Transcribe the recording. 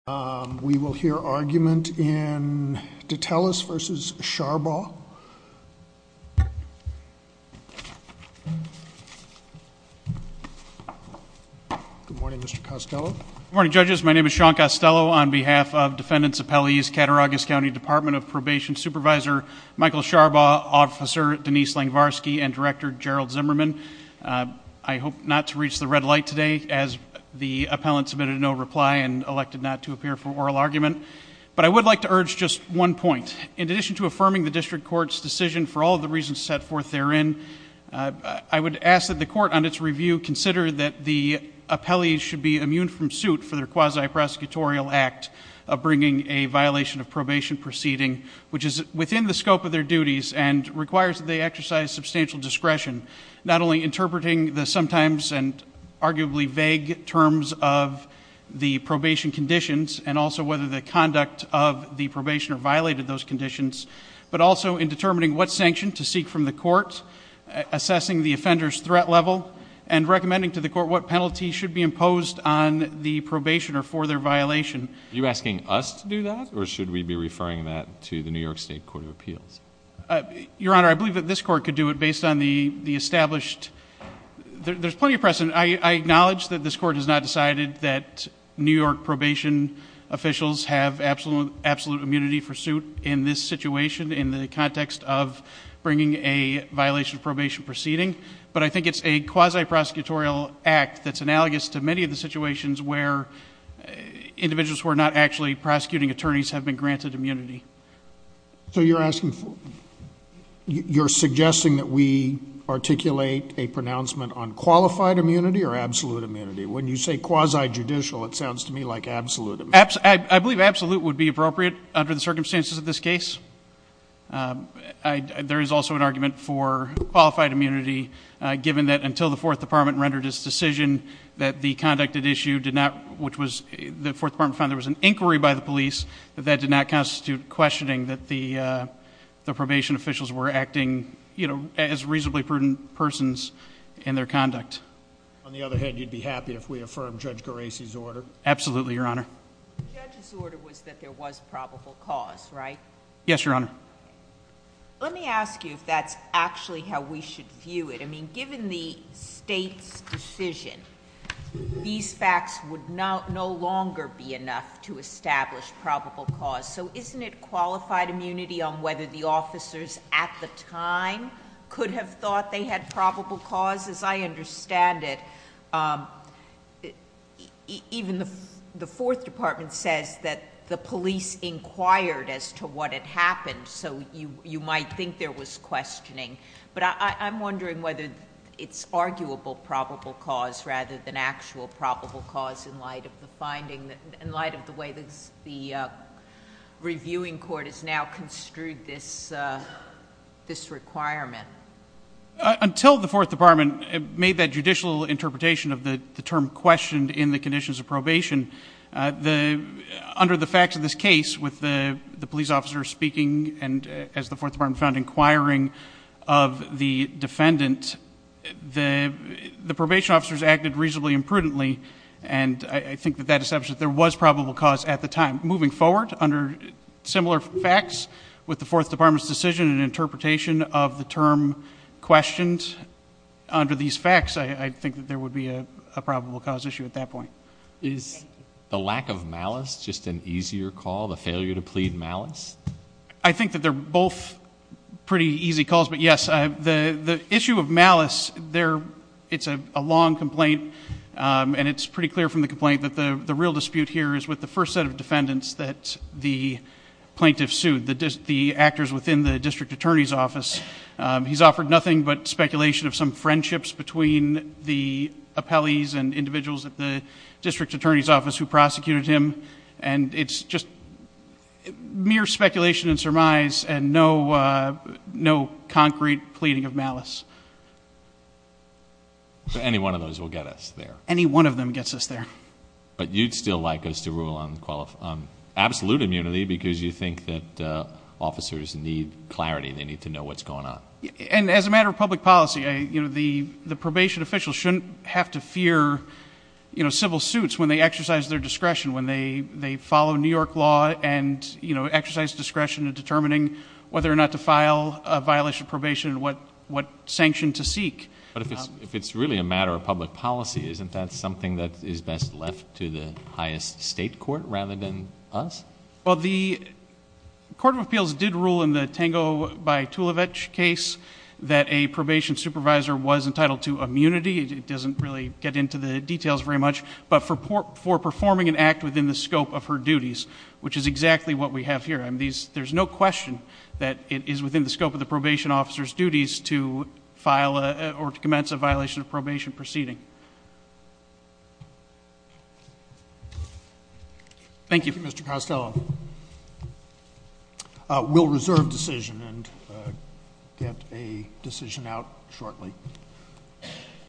We will hear argument in Dettelis v. Sharbaugh. Good morning, Mr. Costello. Good morning, judges. My name is Sean Costello. On behalf of defendants' appellees, Cattaraugus County Department of Probation Supervisor Michael Sharbaugh, Officer Denise Langvarsky, and Director Gerald Zimmerman, I hope not to reach the red light today, as the appellant submitted no reply and elected not to appear for oral argument. But I would like to urge just one point. In addition to affirming the district court's decision for all of the reasons set forth therein, I would ask that the court, on its review, consider that the appellees should be immune from suit for their quasi-prosecutorial act of bringing a violation of probation proceeding, which is within the scope of their duties and requires that they exercise substantial discretion, not only interpreting the sometimes and arguably vague terms of the probation conditions and also whether the conduct of the probationer violated those conditions, but also in determining what sanction to seek from the court, assessing the offender's threat level, and recommending to the court what penalty should be imposed on the probationer for their violation. Are you asking us to do that, or should we be referring that to the New York State Court of Appeals? Your Honor, I believe that this court could do it based on the established... There's plenty of precedent. I acknowledge that this court has not decided that New York probation officials have absolute immunity for suit in this situation in the context of bringing a violation of probation proceeding, but I think it's a quasi-prosecutorial act that's analogous to many of the situations where individuals who are not actually prosecuting attorneys have been granted immunity. So you're suggesting that we articulate a pronouncement on qualified immunity or absolute immunity? When you say quasi-judicial, it sounds to me like absolute immunity. I believe absolute would be appropriate under the circumstances of this case. There is also an argument for qualified immunity, given that until the Fourth Department rendered its decision that the conducted issue did not... The Fourth Department found there was an inquiry by the police that that did not constitute questioning that the probation officials were acting, you know, as reasonably prudent persons in their conduct. On the other hand, you'd be happy if we affirmed Judge Gerasi's order? Absolutely, Your Honor. The judge's order was that there was probable cause, right? Yes, Your Honor. Let me ask you if that's actually how we should view it. I mean, given the state's decision, these facts would no longer be enough to establish probable cause, so isn't it qualified immunity on whether the officers at the time could have thought they had probable cause? As I understand it, even the Fourth Department says that the police inquired as to what had happened, so you might think there was questioning. But I'm wondering whether it's arguable probable cause rather than actual probable cause in light of the way the reviewing court has now construed this requirement. Until the Fourth Department made that judicial interpretation of the term questioned in the conditions of probation, under the facts of this case, with the police officer speaking and, as the Fourth Department found, inquiring of the defendant, the probation officers acted reasonably and prudently, and I think that that establishes that there was probable cause at the time. Moving forward, under similar facts, with the Fourth Department's decision and interpretation of the term questioned, under these facts, I think that there would be a probable cause issue at that point. Is the lack of malice just an easier call, the failure to plead malice? I think that they're both pretty easy calls. Yes, the issue of malice, it's a long complaint, and it's pretty clear from the complaint that the real dispute here is with the first set of defendants that the plaintiff sued, the actors within the district attorney's office. He's offered nothing but speculation of some friendships between the appellees and individuals at the district attorney's office who prosecuted him, and it's just mere speculation and surmise and no concrete pleading of malice. Any one of those will get us there. Any one of them gets us there. But you'd still like us to rule on absolute immunity because you think that officers need clarity, they need to know what's going on. And as a matter of public policy, the probation officials shouldn't have to fear civil suits when they exercise their discretion, when they follow New York law and exercise discretion in determining whether or not to file a violation of probation and what sanction to seek. But if it's really a matter of public policy, isn't that something that is best left to the highest state court rather than us? Well, the court of appeals did rule in the Tango by Tulevich case that a probation supervisor was entitled to immunity. It doesn't really get into the details very much, but for performing an act within the scope of her duties, which is exactly what we have here, there's no question that it is within the scope of the probation officer's duties to file or to commence a violation of probation proceeding. Thank you. Thank you, Mr. Costello. We'll reserve decision and get a decision out shortly.